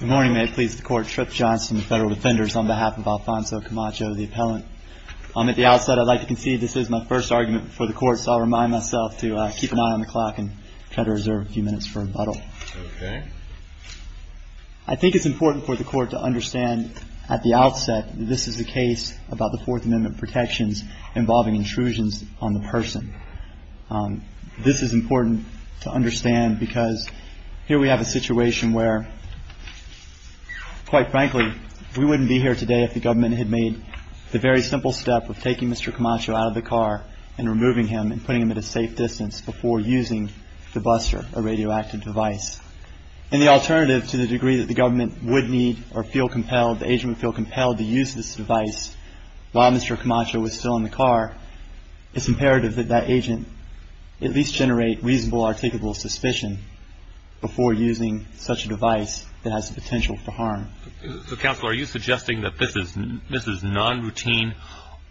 Good morning, may it please the Court, Tripp Johnson, the Federal Defenders, on behalf of Alfonso Camacho, the Appellant. At the outset, I'd like to concede this is my first argument before the Court, so I'll remind myself to keep an eye on the clock and try to reserve a few minutes for rebuttal. Okay. I think it's important for the Court to understand at the outset that this is a case about the Fourth Amendment protections involving intrusions on the person. This is important to understand because here we have a situation where, quite frankly, we wouldn't be here today if the government had made the very simple step of taking Mr. Camacho out of the car and removing him and putting him at a safe distance before using the buster, a radioactive device. And the alternative to the degree that the government would need or feel compelled, the agent would feel compelled to use this device while Mr. Camacho was still in the car. It's imperative that that agent at least generate reasonable, articulable suspicion before using such a device that has the potential for harm. Counsel, are you suggesting that this is non-routine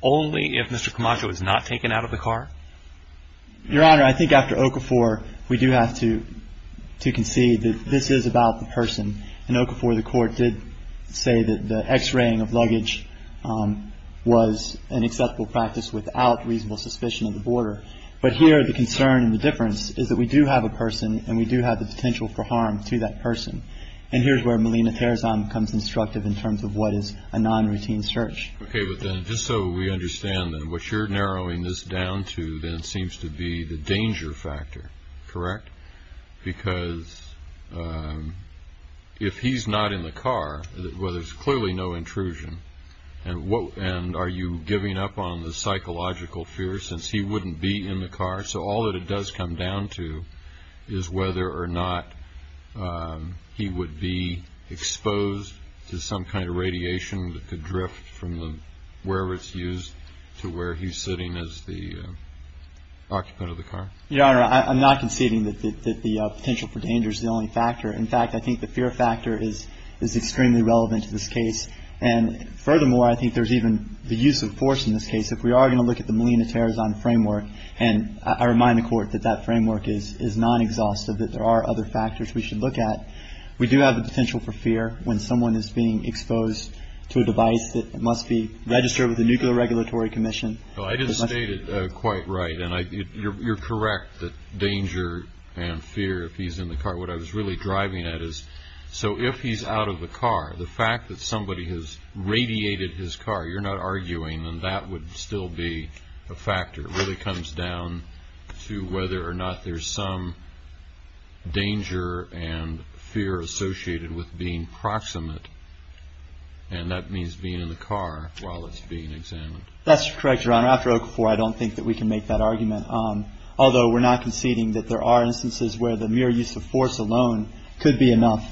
only if Mr. Camacho is not taken out of the car? Your Honor, I think after Okafor, we do have to concede that this is about the person. In Okafor, the Court did say that the X-raying of luggage was an acceptable practice without reasonable suspicion of the border. But here the concern and the difference is that we do have a person and we do have the potential for harm to that person. And here's where Melina Terzan becomes instructive in terms of what is a non-routine search. Okay. But then just so we understand that what you're narrowing this down to then seems to be the danger factor. Correct? Because if he's not in the car, well, there's clearly no intrusion. And are you giving up on the psychological fear since he wouldn't be in the car? So all that it does come down to is whether or not he would be exposed to some kind of radiation that could drift from wherever it's used to where he's sitting as the occupant of the car. Your Honor, I'm not conceding that the potential for danger is the only factor. In fact, I think the fear factor is extremely relevant to this case. And furthermore, I think there's even the use of force in this case. If we are going to look at the Melina Terzan framework, and I remind the Court that that framework is non-exhaustive, that there are other factors we should look at. We do have the potential for fear when someone is being exposed to a device that must be registered with the Nuclear Regulatory Commission. Well, I didn't state it quite right. And you're correct that danger and fear if he's in the car. What I was really driving at is so if he's out of the car, the fact that somebody has radiated his car, you're not arguing. And that would still be a factor. It really comes down to whether or not there's some danger and fear associated with being proximate. And that means being in the car while it's being examined. That's correct, Your Honor. After Okafor, I don't think that we can make that argument, although we're not conceding that there are instances where the mere use of force alone could be enough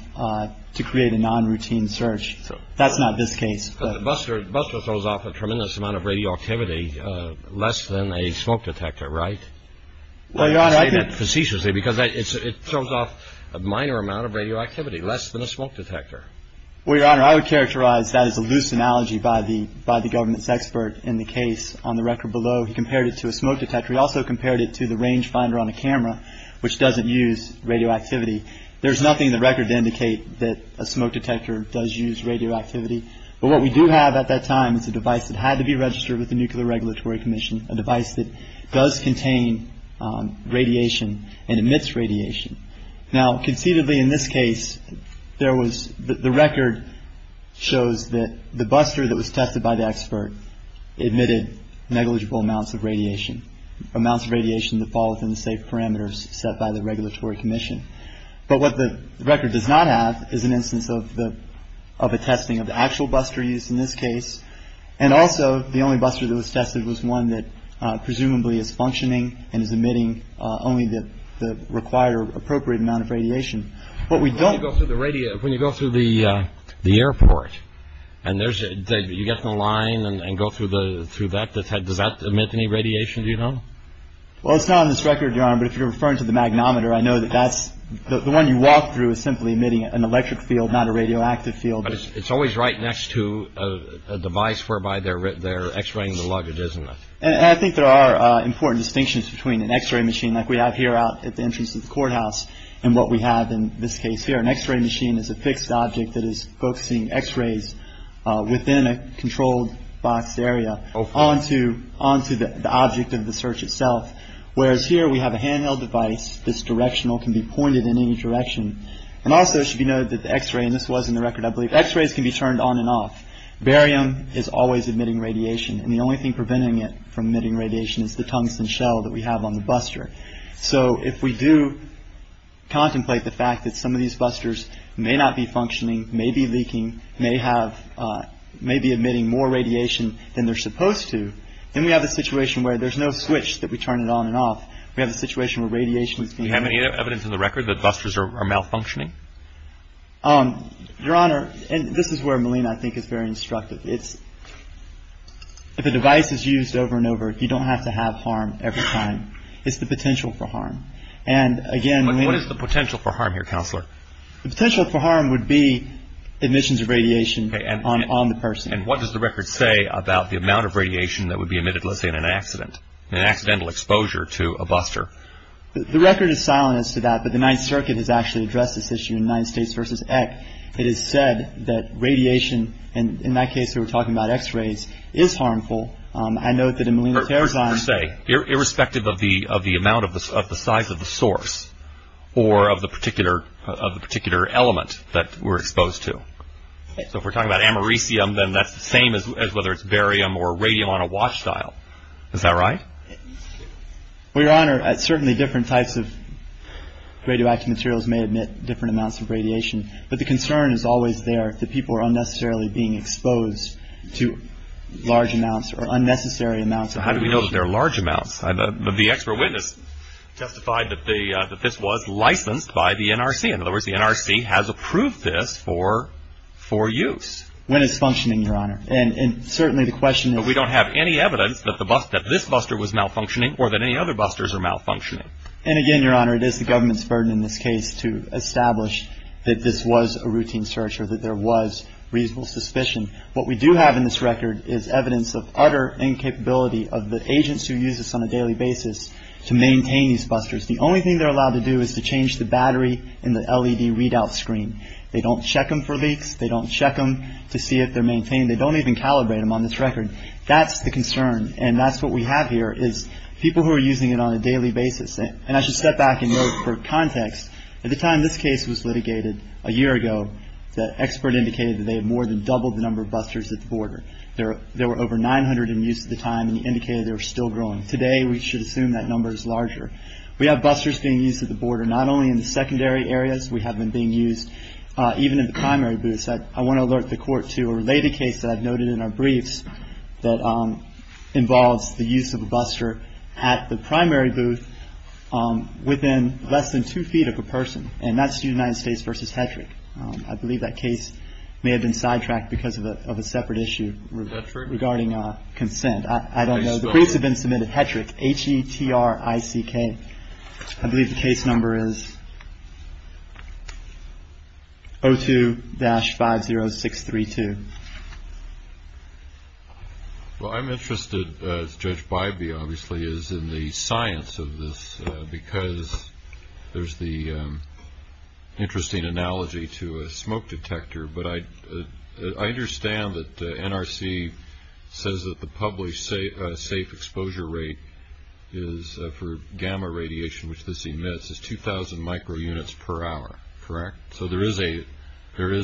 to create a non-routine search. So that's not this case. Buster throws off a tremendous amount of radioactivity, less than a smoke detector, right? Well, Your Honor, I can't. Because it throws off a minor amount of radioactivity, less than a smoke detector. Well, Your Honor, I would characterize that as a loose analogy by the government's expert in the case on the record below. He compared it to a smoke detector. He also compared it to the range finder on a camera, which doesn't use radioactivity. There's nothing in the record to indicate that a smoke detector does use radioactivity. But what we do have at that time is a device that had to be registered with the Nuclear Regulatory Commission, a device that does contain radiation and emits radiation. Now, conceivably, in this case, there was the record shows that the buster that was tested by the expert admitted negligible amounts of radiation, amounts of radiation that fall within the safe parameters set by the regulatory commission. But what the record does not have is an instance of the of a testing of the actual buster used in this case. And also the only buster that was tested was one that presumably is functioning and is emitting only the required or appropriate amount of radiation. But we don't go through the radio. When you go through the airport and there's you get the line and go through the through that. Does that emit any radiation? Do you know? Well, it's not on this record, Your Honor. But if you're referring to the magnometer, I know that that's the one you walk through is simply emitting an electric field, not a radioactive field. But it's always right next to a device whereby they're they're X-raying the luggage, isn't it? And I think there are important distinctions between an X-ray machine like we have here out at the entrance of the courthouse. And what we have in this case here, an X-ray machine is a fixed object that is focusing X-rays within a controlled box area onto onto the object of the search itself. Whereas here we have a handheld device. This directional can be pointed in any direction. And also should be noted that the X-ray and this was in the record, I believe X-rays can be turned on and off. Barium is always emitting radiation. And the only thing preventing it from emitting radiation is the tungsten shell that we have on the buster. So if we do contemplate the fact that some of these busters may not be functioning, maybe leaking, may have maybe emitting more radiation than they're supposed to. Then we have a situation where there's no switch that we turn it on and off. We have a situation where radiation is. Do you have any evidence in the record that busters are malfunctioning? Your Honor. And this is where Malina, I think, is very instructive. It's if a device is used over and over, you don't have to have harm every time. It's the potential for harm. And again, what is the potential for harm here? Counselor, the potential for harm would be emissions of radiation on the person. And what does the record say about the amount of radiation that would be emitted? Let's say in an accident, an accidental exposure to a buster. The record is silent as to that. But the Ninth Circuit has actually addressed this issue in Ninth States versus Eck. It is said that radiation, and in that case we were talking about x-rays, is harmful. I note that in Malina-Tarazan. Irrespective of the amount of the size of the source or of the particular element that we're exposed to. So if we're talking about americium, then that's the same as whether it's barium or radium on a watch dial. Is that right? Well, Your Honor, certainly different types of radioactive materials may emit different amounts of radiation. But the concern is always there that people are unnecessarily being exposed to large amounts or unnecessary amounts. How do we know that they're large amounts? The expert witness testified that this was licensed by the NRC. In other words, the NRC has approved this for use. When it's functioning, Your Honor. And certainly the question is... But we don't have any evidence that this buster was malfunctioning or that any other busters are malfunctioning. And again, Your Honor, it is the government's burden in this case to establish that this was a routine search or that there was reasonable suspicion. What we do have in this record is evidence of utter incapability of the agents who use this on a daily basis to maintain these busters. The only thing they're allowed to do is to change the battery in the LED readout screen. They don't check them for leaks. They don't check them to see if they're maintained. They don't even calibrate them on this record. That's the concern. And that's what we have here is people who are using it on a daily basis. And I should step back and note for context, at the time this case was litigated a year ago, the expert indicated that they had more than doubled the number of busters at the border. There were over 900 in use at the time, and he indicated they were still growing. Today, we should assume that number is larger. We have busters being used at the border, not only in the secondary areas. We have them being used even in the primary booths. I want to alert the Court to a related case that I've noted in our briefs that involves the use of a buster at the primary booth within less than two feet of a person. And that's the United States v. Hedrick. I believe that case may have been sidetracked because of a separate issue regarding consent. I don't know. The briefs have been submitted. Hedrick, H-E-T-R-I-C-K. I believe the case number is 02-50632. Well, I'm interested, as Judge Bybee obviously is, in the science of this, because there's the interesting analogy to a smoke detector. But I understand that the NRC says that the published safe exposure rate for gamma radiation, which this emits, is 2,000 microunits per hour. Correct? So there is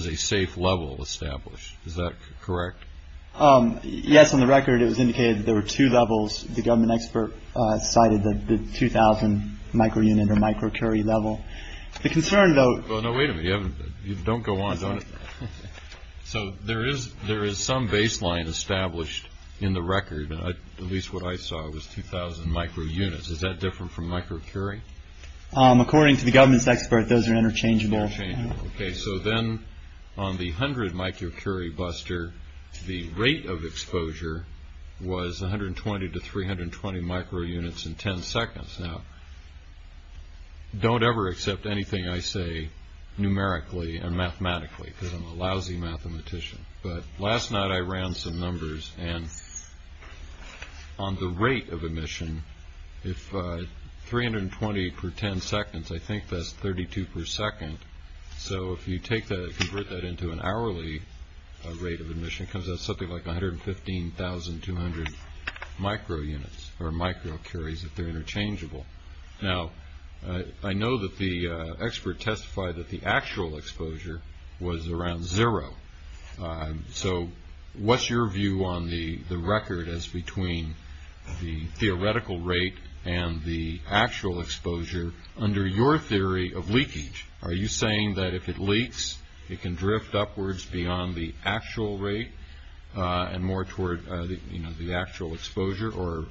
a safe level established. Is that correct? Yes. On the record, it was indicated there were two levels. The government expert cited the 2,000 microunit or microcurry level. Well, no, wait a minute. Don't go on. So there is some baseline established in the record. At least what I saw was 2,000 microunits. Is that different from microcurry? According to the government's expert, those are interchangeable. Okay. So then on the 100 microcurry buster, the rate of exposure was 120 to 320 microunits in 10 seconds. Now, don't ever accept anything I say numerically and mathematically, because I'm a lousy mathematician. But last night I ran some numbers. And on the rate of emission, if 320 per 10 seconds, I think that's 32 per second. So if you convert that into an hourly rate of emission, it comes out something like 115,200 microunits or microcurries, if they're interchangeable. Now, I know that the expert testified that the actual exposure was around zero. So what's your view on the record as between the theoretical rate and the actual exposure? Under your theory of leakage, are you saying that if it leaks, it can drift upwards beyond the actual rate and more toward the actual exposure? Or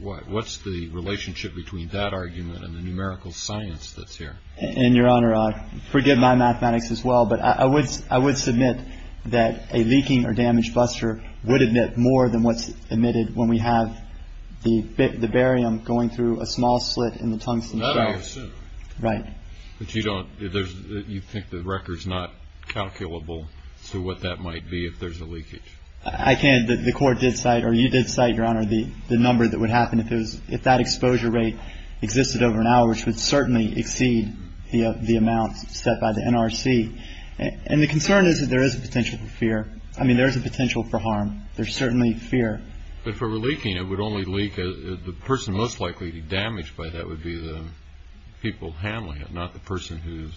what's the relationship between that argument and the numerical science that's here? And, Your Honor, forgive my mathematics as well, but I would submit that a leaking or damaged buster would emit more than what's emitted when we have the barium going through a small slit in the tungsten chamber. Right. But you think the record's not calculable to what that might be if there's a leakage? I can't. The Court did cite, or you did cite, Your Honor, the number that would happen if that exposure rate existed over an hour, which would certainly exceed the amount set by the NRC. And the concern is that there is a potential for fear. I mean, there is a potential for harm. There's certainly fear. But if it were leaking, it would only leak. The person most likely to be damaged by that would be the people handling it, not the person who's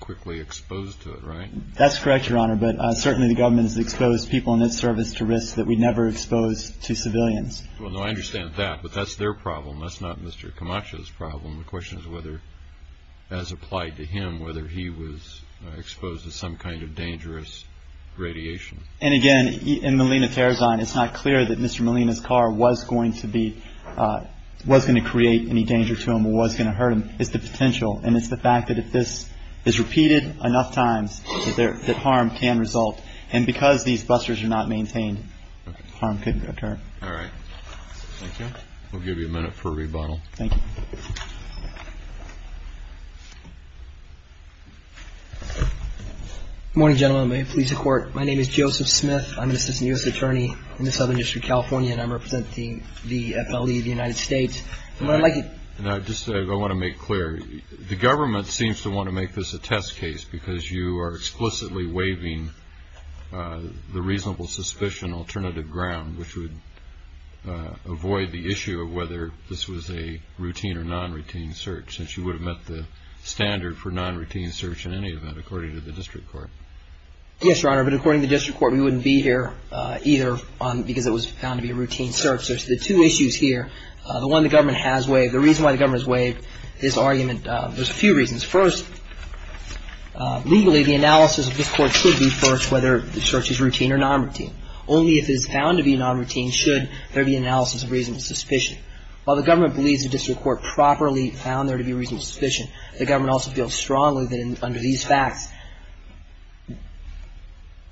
quickly exposed to it, right? That's correct, Your Honor, but certainly the government has exposed people in its service to risks that we never expose to civilians. Well, no, I understand that, but that's their problem. That's not Mr. Camacha's problem. The question is whether, as applied to him, whether he was exposed to some kind of dangerous radiation. And, again, in Molina-Terrazine, it's not clear that Mr. Molina's car was going to be, was going to create any danger to him or was going to hurt him. It's the potential, and it's the fact that if this is repeated enough times, that harm can result. And because these busters are not maintained, harm can occur. All right. Thank you. We'll give you a minute for a rebuttal. Thank you. Good morning, gentlemen. May it please the Court. My name is Joseph Smith. I'm an assistant U.S. attorney in the Southern District of California, and I'm representing the FLE of the United States. And I'd like to just say I want to make clear, the government seems to want to make this a test case because you are explicitly waiving the reasonable suspicion alternative ground, which would avoid the issue of whether this was a routine or non-routine search, since you would have met the standard for non-routine search in any event, according to the district court. Yes, Your Honor. But according to the district court, we wouldn't be here either because it was found to be a routine search. There's the two issues here. The one the government has waived. The reason why the government has waived this argument, there's a few reasons. First, legally, the analysis of this court should be first whether the search is routine or non-routine. Only if it is found to be non-routine should there be an analysis of reasonable suspicion. While the government believes the district court properly found there to be reasonable suspicion, the government also feels strongly that under these facts,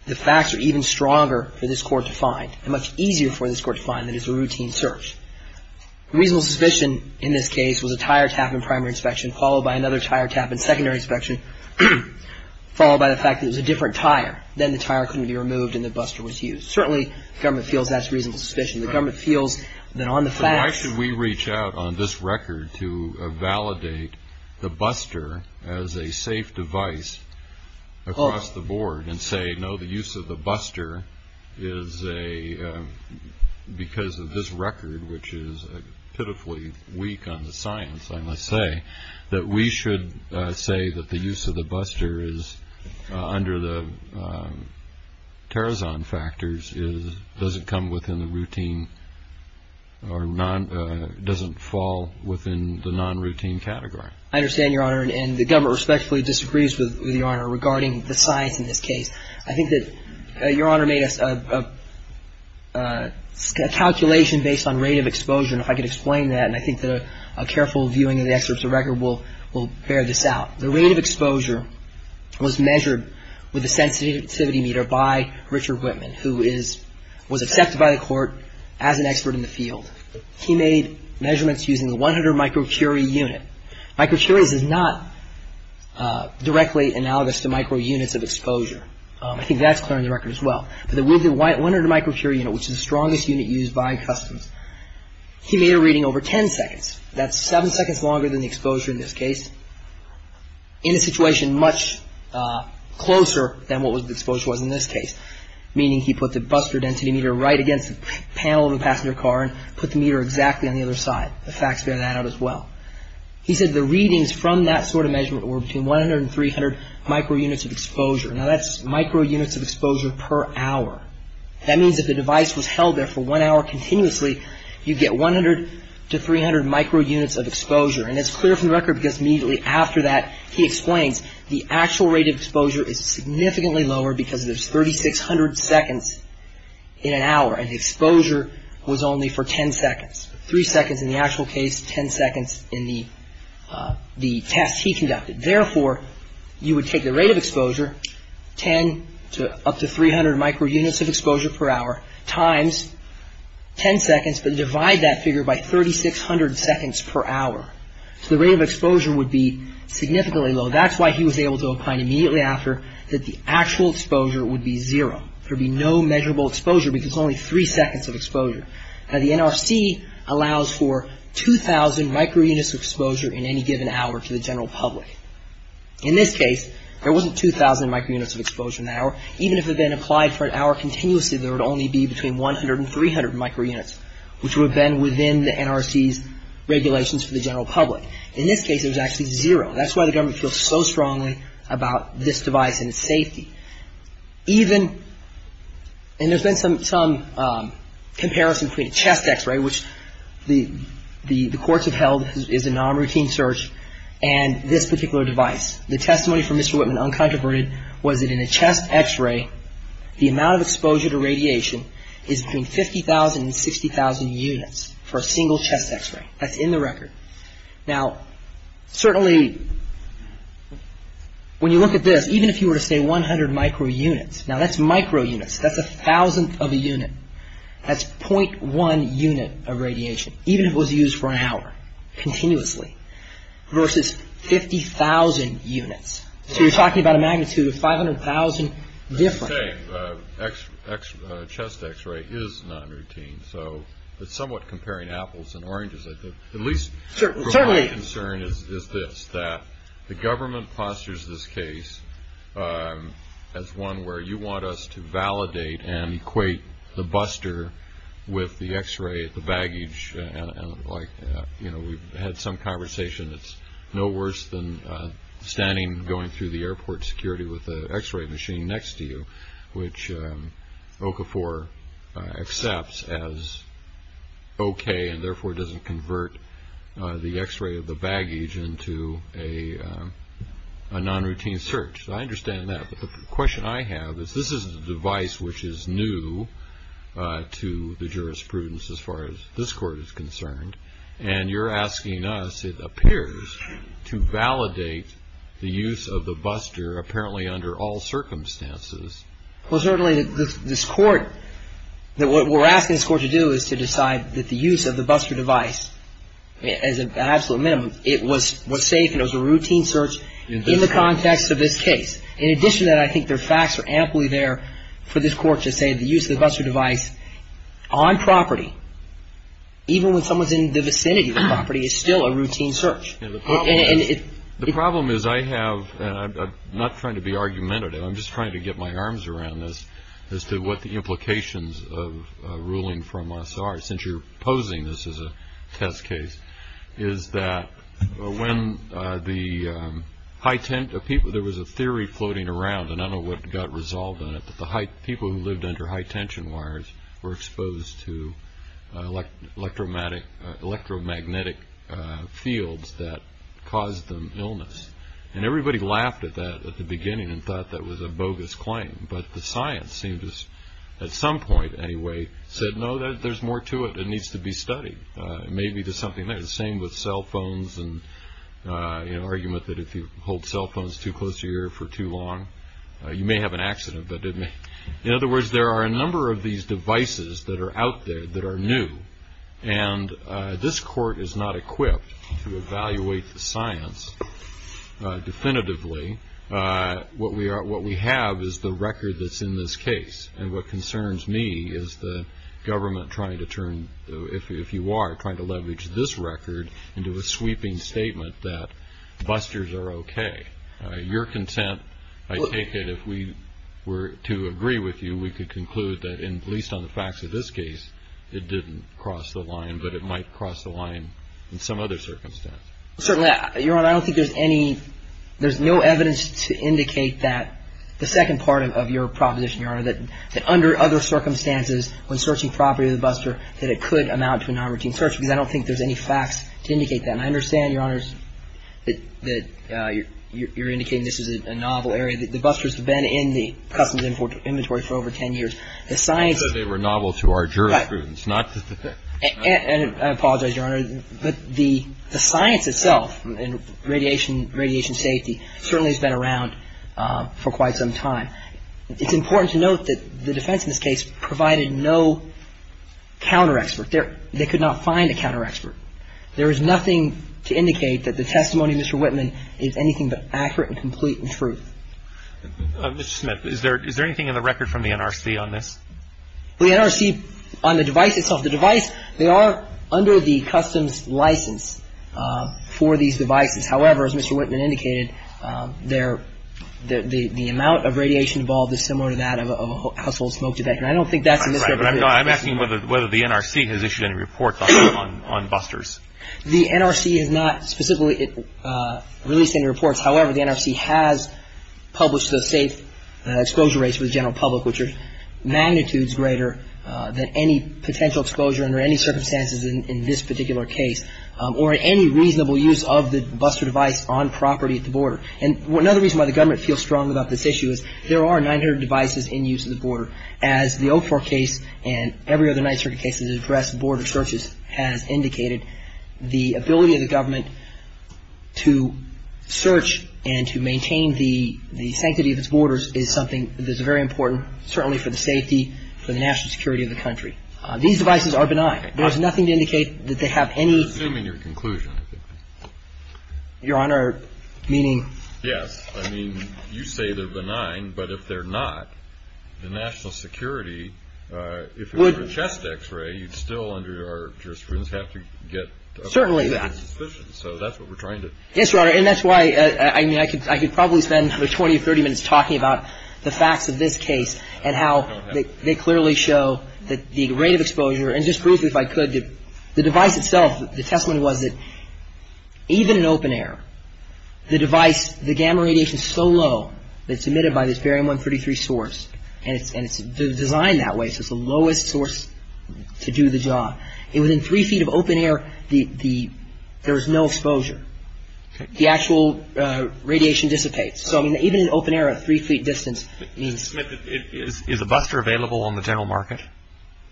the facts are even stronger for this court to find and much easier for this court to find than is a routine search. Reasonable suspicion in this case was a tire tap in primary inspection, followed by another tire tap in secondary inspection, followed by the fact that it was a different tire. Then the tire couldn't be removed and the buster was used. Certainly, the government feels that's reasonable suspicion. The government feels that on the facts. Why should we reach out on this record to validate the buster as a safe device across the board and say, no, the use of the buster is because of this record, which is pitifully weak on the science, I must say, that we should say that the use of the buster under the Tarazan factors doesn't come within the routine or doesn't fall within the non-routine category. I understand, Your Honor, and the government respectfully disagrees with Your Honor regarding the science in this case. I think that Your Honor made a calculation based on rate of exposure, and if I could explain that, and I think that a careful viewing of the excerpts of the record will bear this out. The rate of exposure was measured with a sensitivity meter by Richard Whitman, who was accepted by the Court as an expert in the field. He made measurements using the 100 microcurie unit. Microcuries is not directly analogous to microunits of exposure. I think that's clear in the record as well. But the 100 microcurie unit, which is the strongest unit used by Customs, he made a reading over 10 seconds. That's 7 seconds longer than the exposure in this case, in a situation much closer than what the exposure was in this case, meaning he put the buster density meter right against the panel of the passenger car and put the meter exactly on the other side. The facts bear that out as well. He said the readings from that sort of measurement were between 100 and 300 microunits of exposure. Now, that's microunits of exposure per hour. That means if the device was held there for one hour continuously, you'd get 100 to 300 microunits of exposure. And it's clear from the record because immediately after that, he explains, the actual rate of exposure is significantly lower because there's 3,600 seconds in an hour, and the exposure was only for 10 seconds. Three seconds in the actual case, 10 seconds in the test he conducted. Therefore, you would take the rate of exposure, 10 to up to 300 microunits of exposure per hour, times 10 seconds, but divide that figure by 3,600 seconds per hour, so the rate of exposure would be significantly lower. That's why he was able to find immediately after that the actual exposure would be zero. There would be no measurable exposure because it's only three seconds of exposure. Now, the NRC allows for 2,000 microunits of exposure in any given hour to the general public. In this case, there wasn't 2,000 microunits of exposure in that hour. Even if it had been applied for an hour continuously, there would only be between 100 and 300 microunits, which would have been within the NRC's regulations for the general public. In this case, it was actually zero. That's why the government feels so strongly about this device and its safety. Even, and there's been some comparison between a chest x-ray, which the courts have held is a non-routine search, and this particular device. The testimony from Mr. Whitman, uncontroverted, was that in a chest x-ray, the amount of exposure to radiation is between 50,000 and 60,000 units for a single chest x-ray. That's in the record. Now, certainly, when you look at this, even if you were to say 100 microunits, now that's microunits. That's a thousandth of a unit. That's .1 unit of radiation, even if it was used for an hour, continuously, versus 50,000 units. So you're talking about a magnitude of 500,000 different. I would say chest x-ray is non-routine. So it's somewhat comparing apples and oranges, I think. At least my concern is this, that the government postures this case as one where you want us to validate and equate the buster with the x-ray, the baggage. We've had some conversation. It's no worse than standing and going through the airport security with an x-ray machine next to you, which OCA4 accepts as okay and, therefore, doesn't convert the x-ray of the baggage into a non-routine search. I understand that. But the question I have is this is a device which is new to the jurisprudence as far as this court is concerned. And you're asking us, it appears, to validate the use of the buster apparently under all circumstances. Well, certainly, this court, what we're asking this court to do is to decide that the use of the buster device, as an absolute minimum, it was safe and it was a routine search in the context of this case. In addition to that, I think there are facts that are amply there for this court to say the use of the buster device on property, even when someone's in the vicinity of the property, is still a routine search. The problem is I have, and I'm not trying to be argumentative, I'm just trying to get my arms around this as to what the implications of ruling from us are, since you're posing this as a test case, is that when the high-tent of people, there was a theory floating around, and I don't know what got resolved in it, but the people who lived under high-tension wires were exposed to electromagnetic fields that caused them illness. And everybody laughed at that at the beginning and thought that was a bogus claim, but the science seemed to, at some point anyway, said, no, there's more to it. It needs to be studied. Maybe there's something there. The same with cell phones and the argument that if you hold cell phones too close to your ear for too long, you may have an accident. In other words, there are a number of these devices that are out there that are new, and this court is not equipped to evaluate the science definitively. What we have is the record that's in this case, and what concerns me is the government trying to turn, if you are, trying to leverage this record into a sweeping statement that busters are okay. Your consent, I take it, if we were to agree with you, we could conclude that, at least on the facts of this case, it didn't cross the line, but it might cross the line in some other circumstance. Certainly. Your Honor, I don't think there's any, there's no evidence to indicate that the second part of your proposition, Your Honor, that under other circumstances, when searching property of the buster, that it could amount to a non-routine search, because I don't think there's any facts to indicate that. And I understand, Your Honor, that you're indicating this is a novel area. The busters have been in the customs inventory for over ten years. The science of it. Because they were novel to our jurisprudence. And I apologize, Your Honor, but the science itself in radiation safety certainly has been around for quite some time. It's important to note that the defense in this case provided no counter-expert. They could not find a counter-expert. There is nothing to indicate that the testimony of Mr. Whitman is anything but accurate and complete and true. Mr. Smith, is there anything in the record from the NRC on this? The NRC, on the device itself, the device, they are under the customs license for these devices. However, as Mr. Whitman indicated, the amount of radiation involved is similar to that of a household smoke detector. I don't think that's a misrepresentation. I'm asking whether the NRC has issued any reports on busters. The NRC has not specifically released any reports. However, the NRC has published the safe exposure rates for the general public, which are magnitudes greater than any potential exposure under any circumstances in this particular case or any reasonable use of the buster device on property at the border. And another reason why the government feels strong about this issue is there are 900 devices in use at the border. As the Oak Fork case and every other Ninth Circuit case that addressed border searches has indicated, the ability of the government to search and to maintain the sanctity of its borders is something that is very important, certainly for the safety, for the national security of the country. These devices are benign. There's nothing to indicate that they have any ---- I'm assuming your conclusion. Your Honor, meaning ---- Yes. I mean, you say they're benign, but if they're not, the national security, if it were a chest X-ray, you'd still under your jurisprudence have to get ---- Certainly that. So that's what we're trying to ---- Yes, Your Honor. And that's why, I mean, I could probably spend 20 or 30 minutes talking about the facts of this case and how they clearly show the rate of exposure. And just briefly, if I could, the device itself, the testimony was that even in open air, the device, the gamma radiation is so low that it's emitted by this barium-133 source, and it's designed that way, so it's the lowest source to do the job. Within three feet of open air, there's no exposure. The actual radiation dissipates. So, I mean, even in open air at three feet distance means ---- Is a buster available on the general market?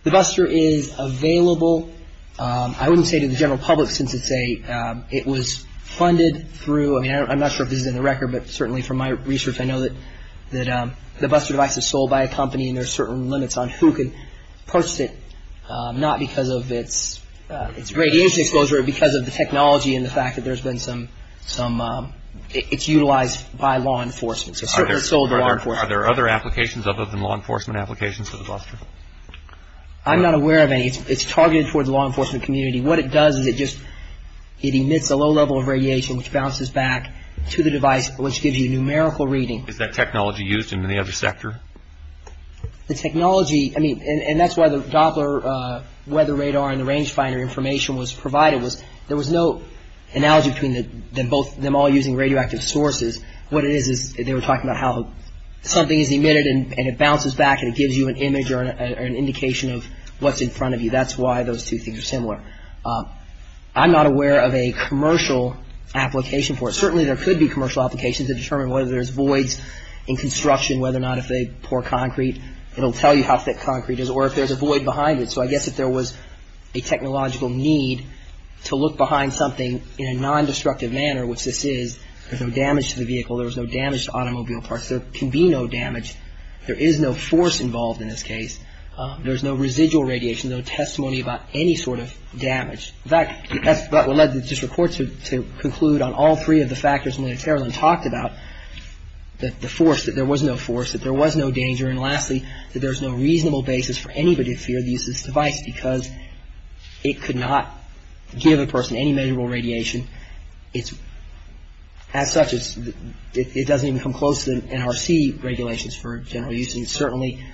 The buster is available. I wouldn't say to the general public since it's a ---- it was funded through, I mean, I'm not sure if this is in the record, but certainly from my research I know that the buster device is sold by a company and there's certain limits on who can purchase it, not because of its radiation exposure, but because of the technology and the fact that there's been some ---- it's utilized by law enforcement. So it's certainly sold to law enforcement. Are there other applications other than law enforcement applications for the buster? I'm not aware of any. It's targeted towards the law enforcement community. What it does is it just ---- it emits a low level of radiation which bounces back to the device, which gives you numerical reading. Is that technology used in the other sector? The technology ---- I mean, and that's why the Doppler weather radar and the range finder information was provided, was there was no analogy between them all using radioactive sources. What it is is they were talking about how something is emitted and it bounces back and it gives you an image or an indication of what's in front of you. That's why those two things are similar. I'm not aware of a commercial application for it. Certainly there could be commercial applications to determine whether there's voids in construction, whether or not if they pour concrete it will tell you how thick concrete is, or if there's a void behind it. So I guess if there was a technological need to look behind something in a non-destructive manner, which this is, there's no damage to the vehicle, there's no damage to automobile parts, there can be no damage. There is no force involved in this case. There's no residual radiation, no testimony about any sort of damage. In fact, that's what led the district court to conclude on all three of the factors and talked about the force, that there was no force, that there was no danger, and lastly, that there's no reasonable basis for anybody to fear the use of this device because it could not give a person any measurable radiation. As such, it doesn't even come close to NRC regulations for general use. It's certainly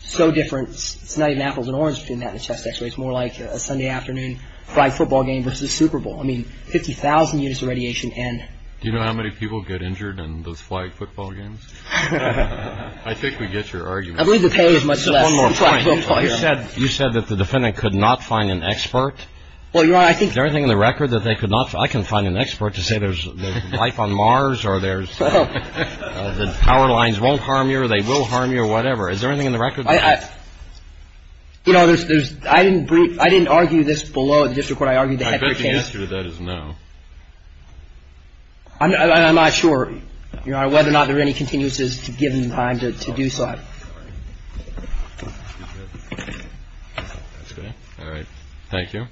so different, it's not even apples and oranges between that and a chest x-ray. It's more like a Sunday afternoon flag football game versus the Super Bowl. I mean, 50,000 units of radiation and... Do you know how many people get injured in those flag football games? I think we get your argument. I believe the pay is much less. One more point. You said that the defendant could not find an expert. Well, Your Honor, I think... Is there anything in the record that they could not... I can find an expert to say there's life on Mars or there's... that power lines won't harm you or they will harm you or whatever. Is there anything in the record? You know, I didn't argue this below the district court. I argued the heck of the case. I bet the answer to that is no. I'm not sure, Your Honor, whether or not there are any continuances to give him time to do so. All right. Thank you.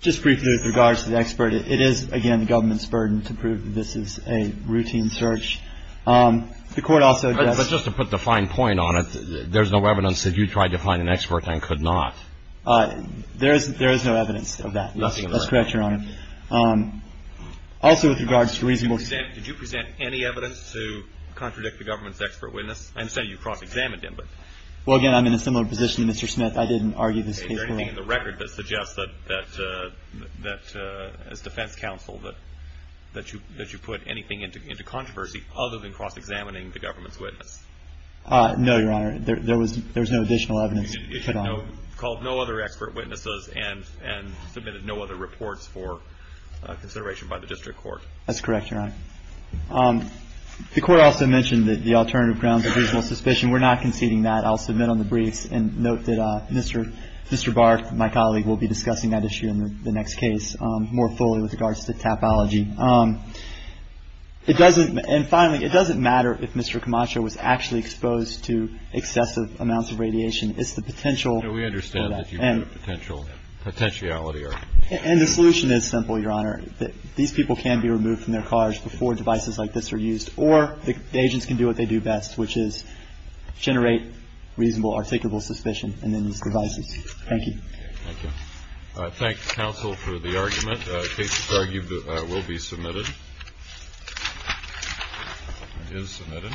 Just briefly with regards to the expert, it is, again, the government's burden to prove this is a routine search. The court also... But just to put the fine point on it, there's no evidence that you tried to find an expert and could not. There is no evidence of that. That's correct, Your Honor. Also with regards to reasonable... Did you present any evidence to contradict the government's expert witness? I understand you cross-examined him, but... Well, again, I'm in a similar position to Mr. Smith. I didn't argue this case well. Is there anything in the record that suggests that as defense counsel that you put anything into controversy other than cross-examining the government's witness? No, Your Honor. There was no additional evidence. You called no other expert witnesses and submitted no other reports for consideration by the district court. That's correct, Your Honor. The court also mentioned that the alternative grounds of reasonable suspicion. We're not conceding that. I'll submit on the briefs and note that Mr. Barth, my colleague, will be discussing that issue in the next case more fully with regards to topology. And finally, it doesn't matter if Mr. Camacho was actually exposed to excessive amounts of radiation. It's the potential... No, we understand that you put a potential... Potentiality argument. And the solution is simple, Your Honor. These people can be removed from their cars before devices like this are used, or the agents can do what they do best, which is generate reasonable, articulable suspicion in these devices. Thank you. Thank you. I thank counsel for the argument. The case is argued will be submitted. It is submitted.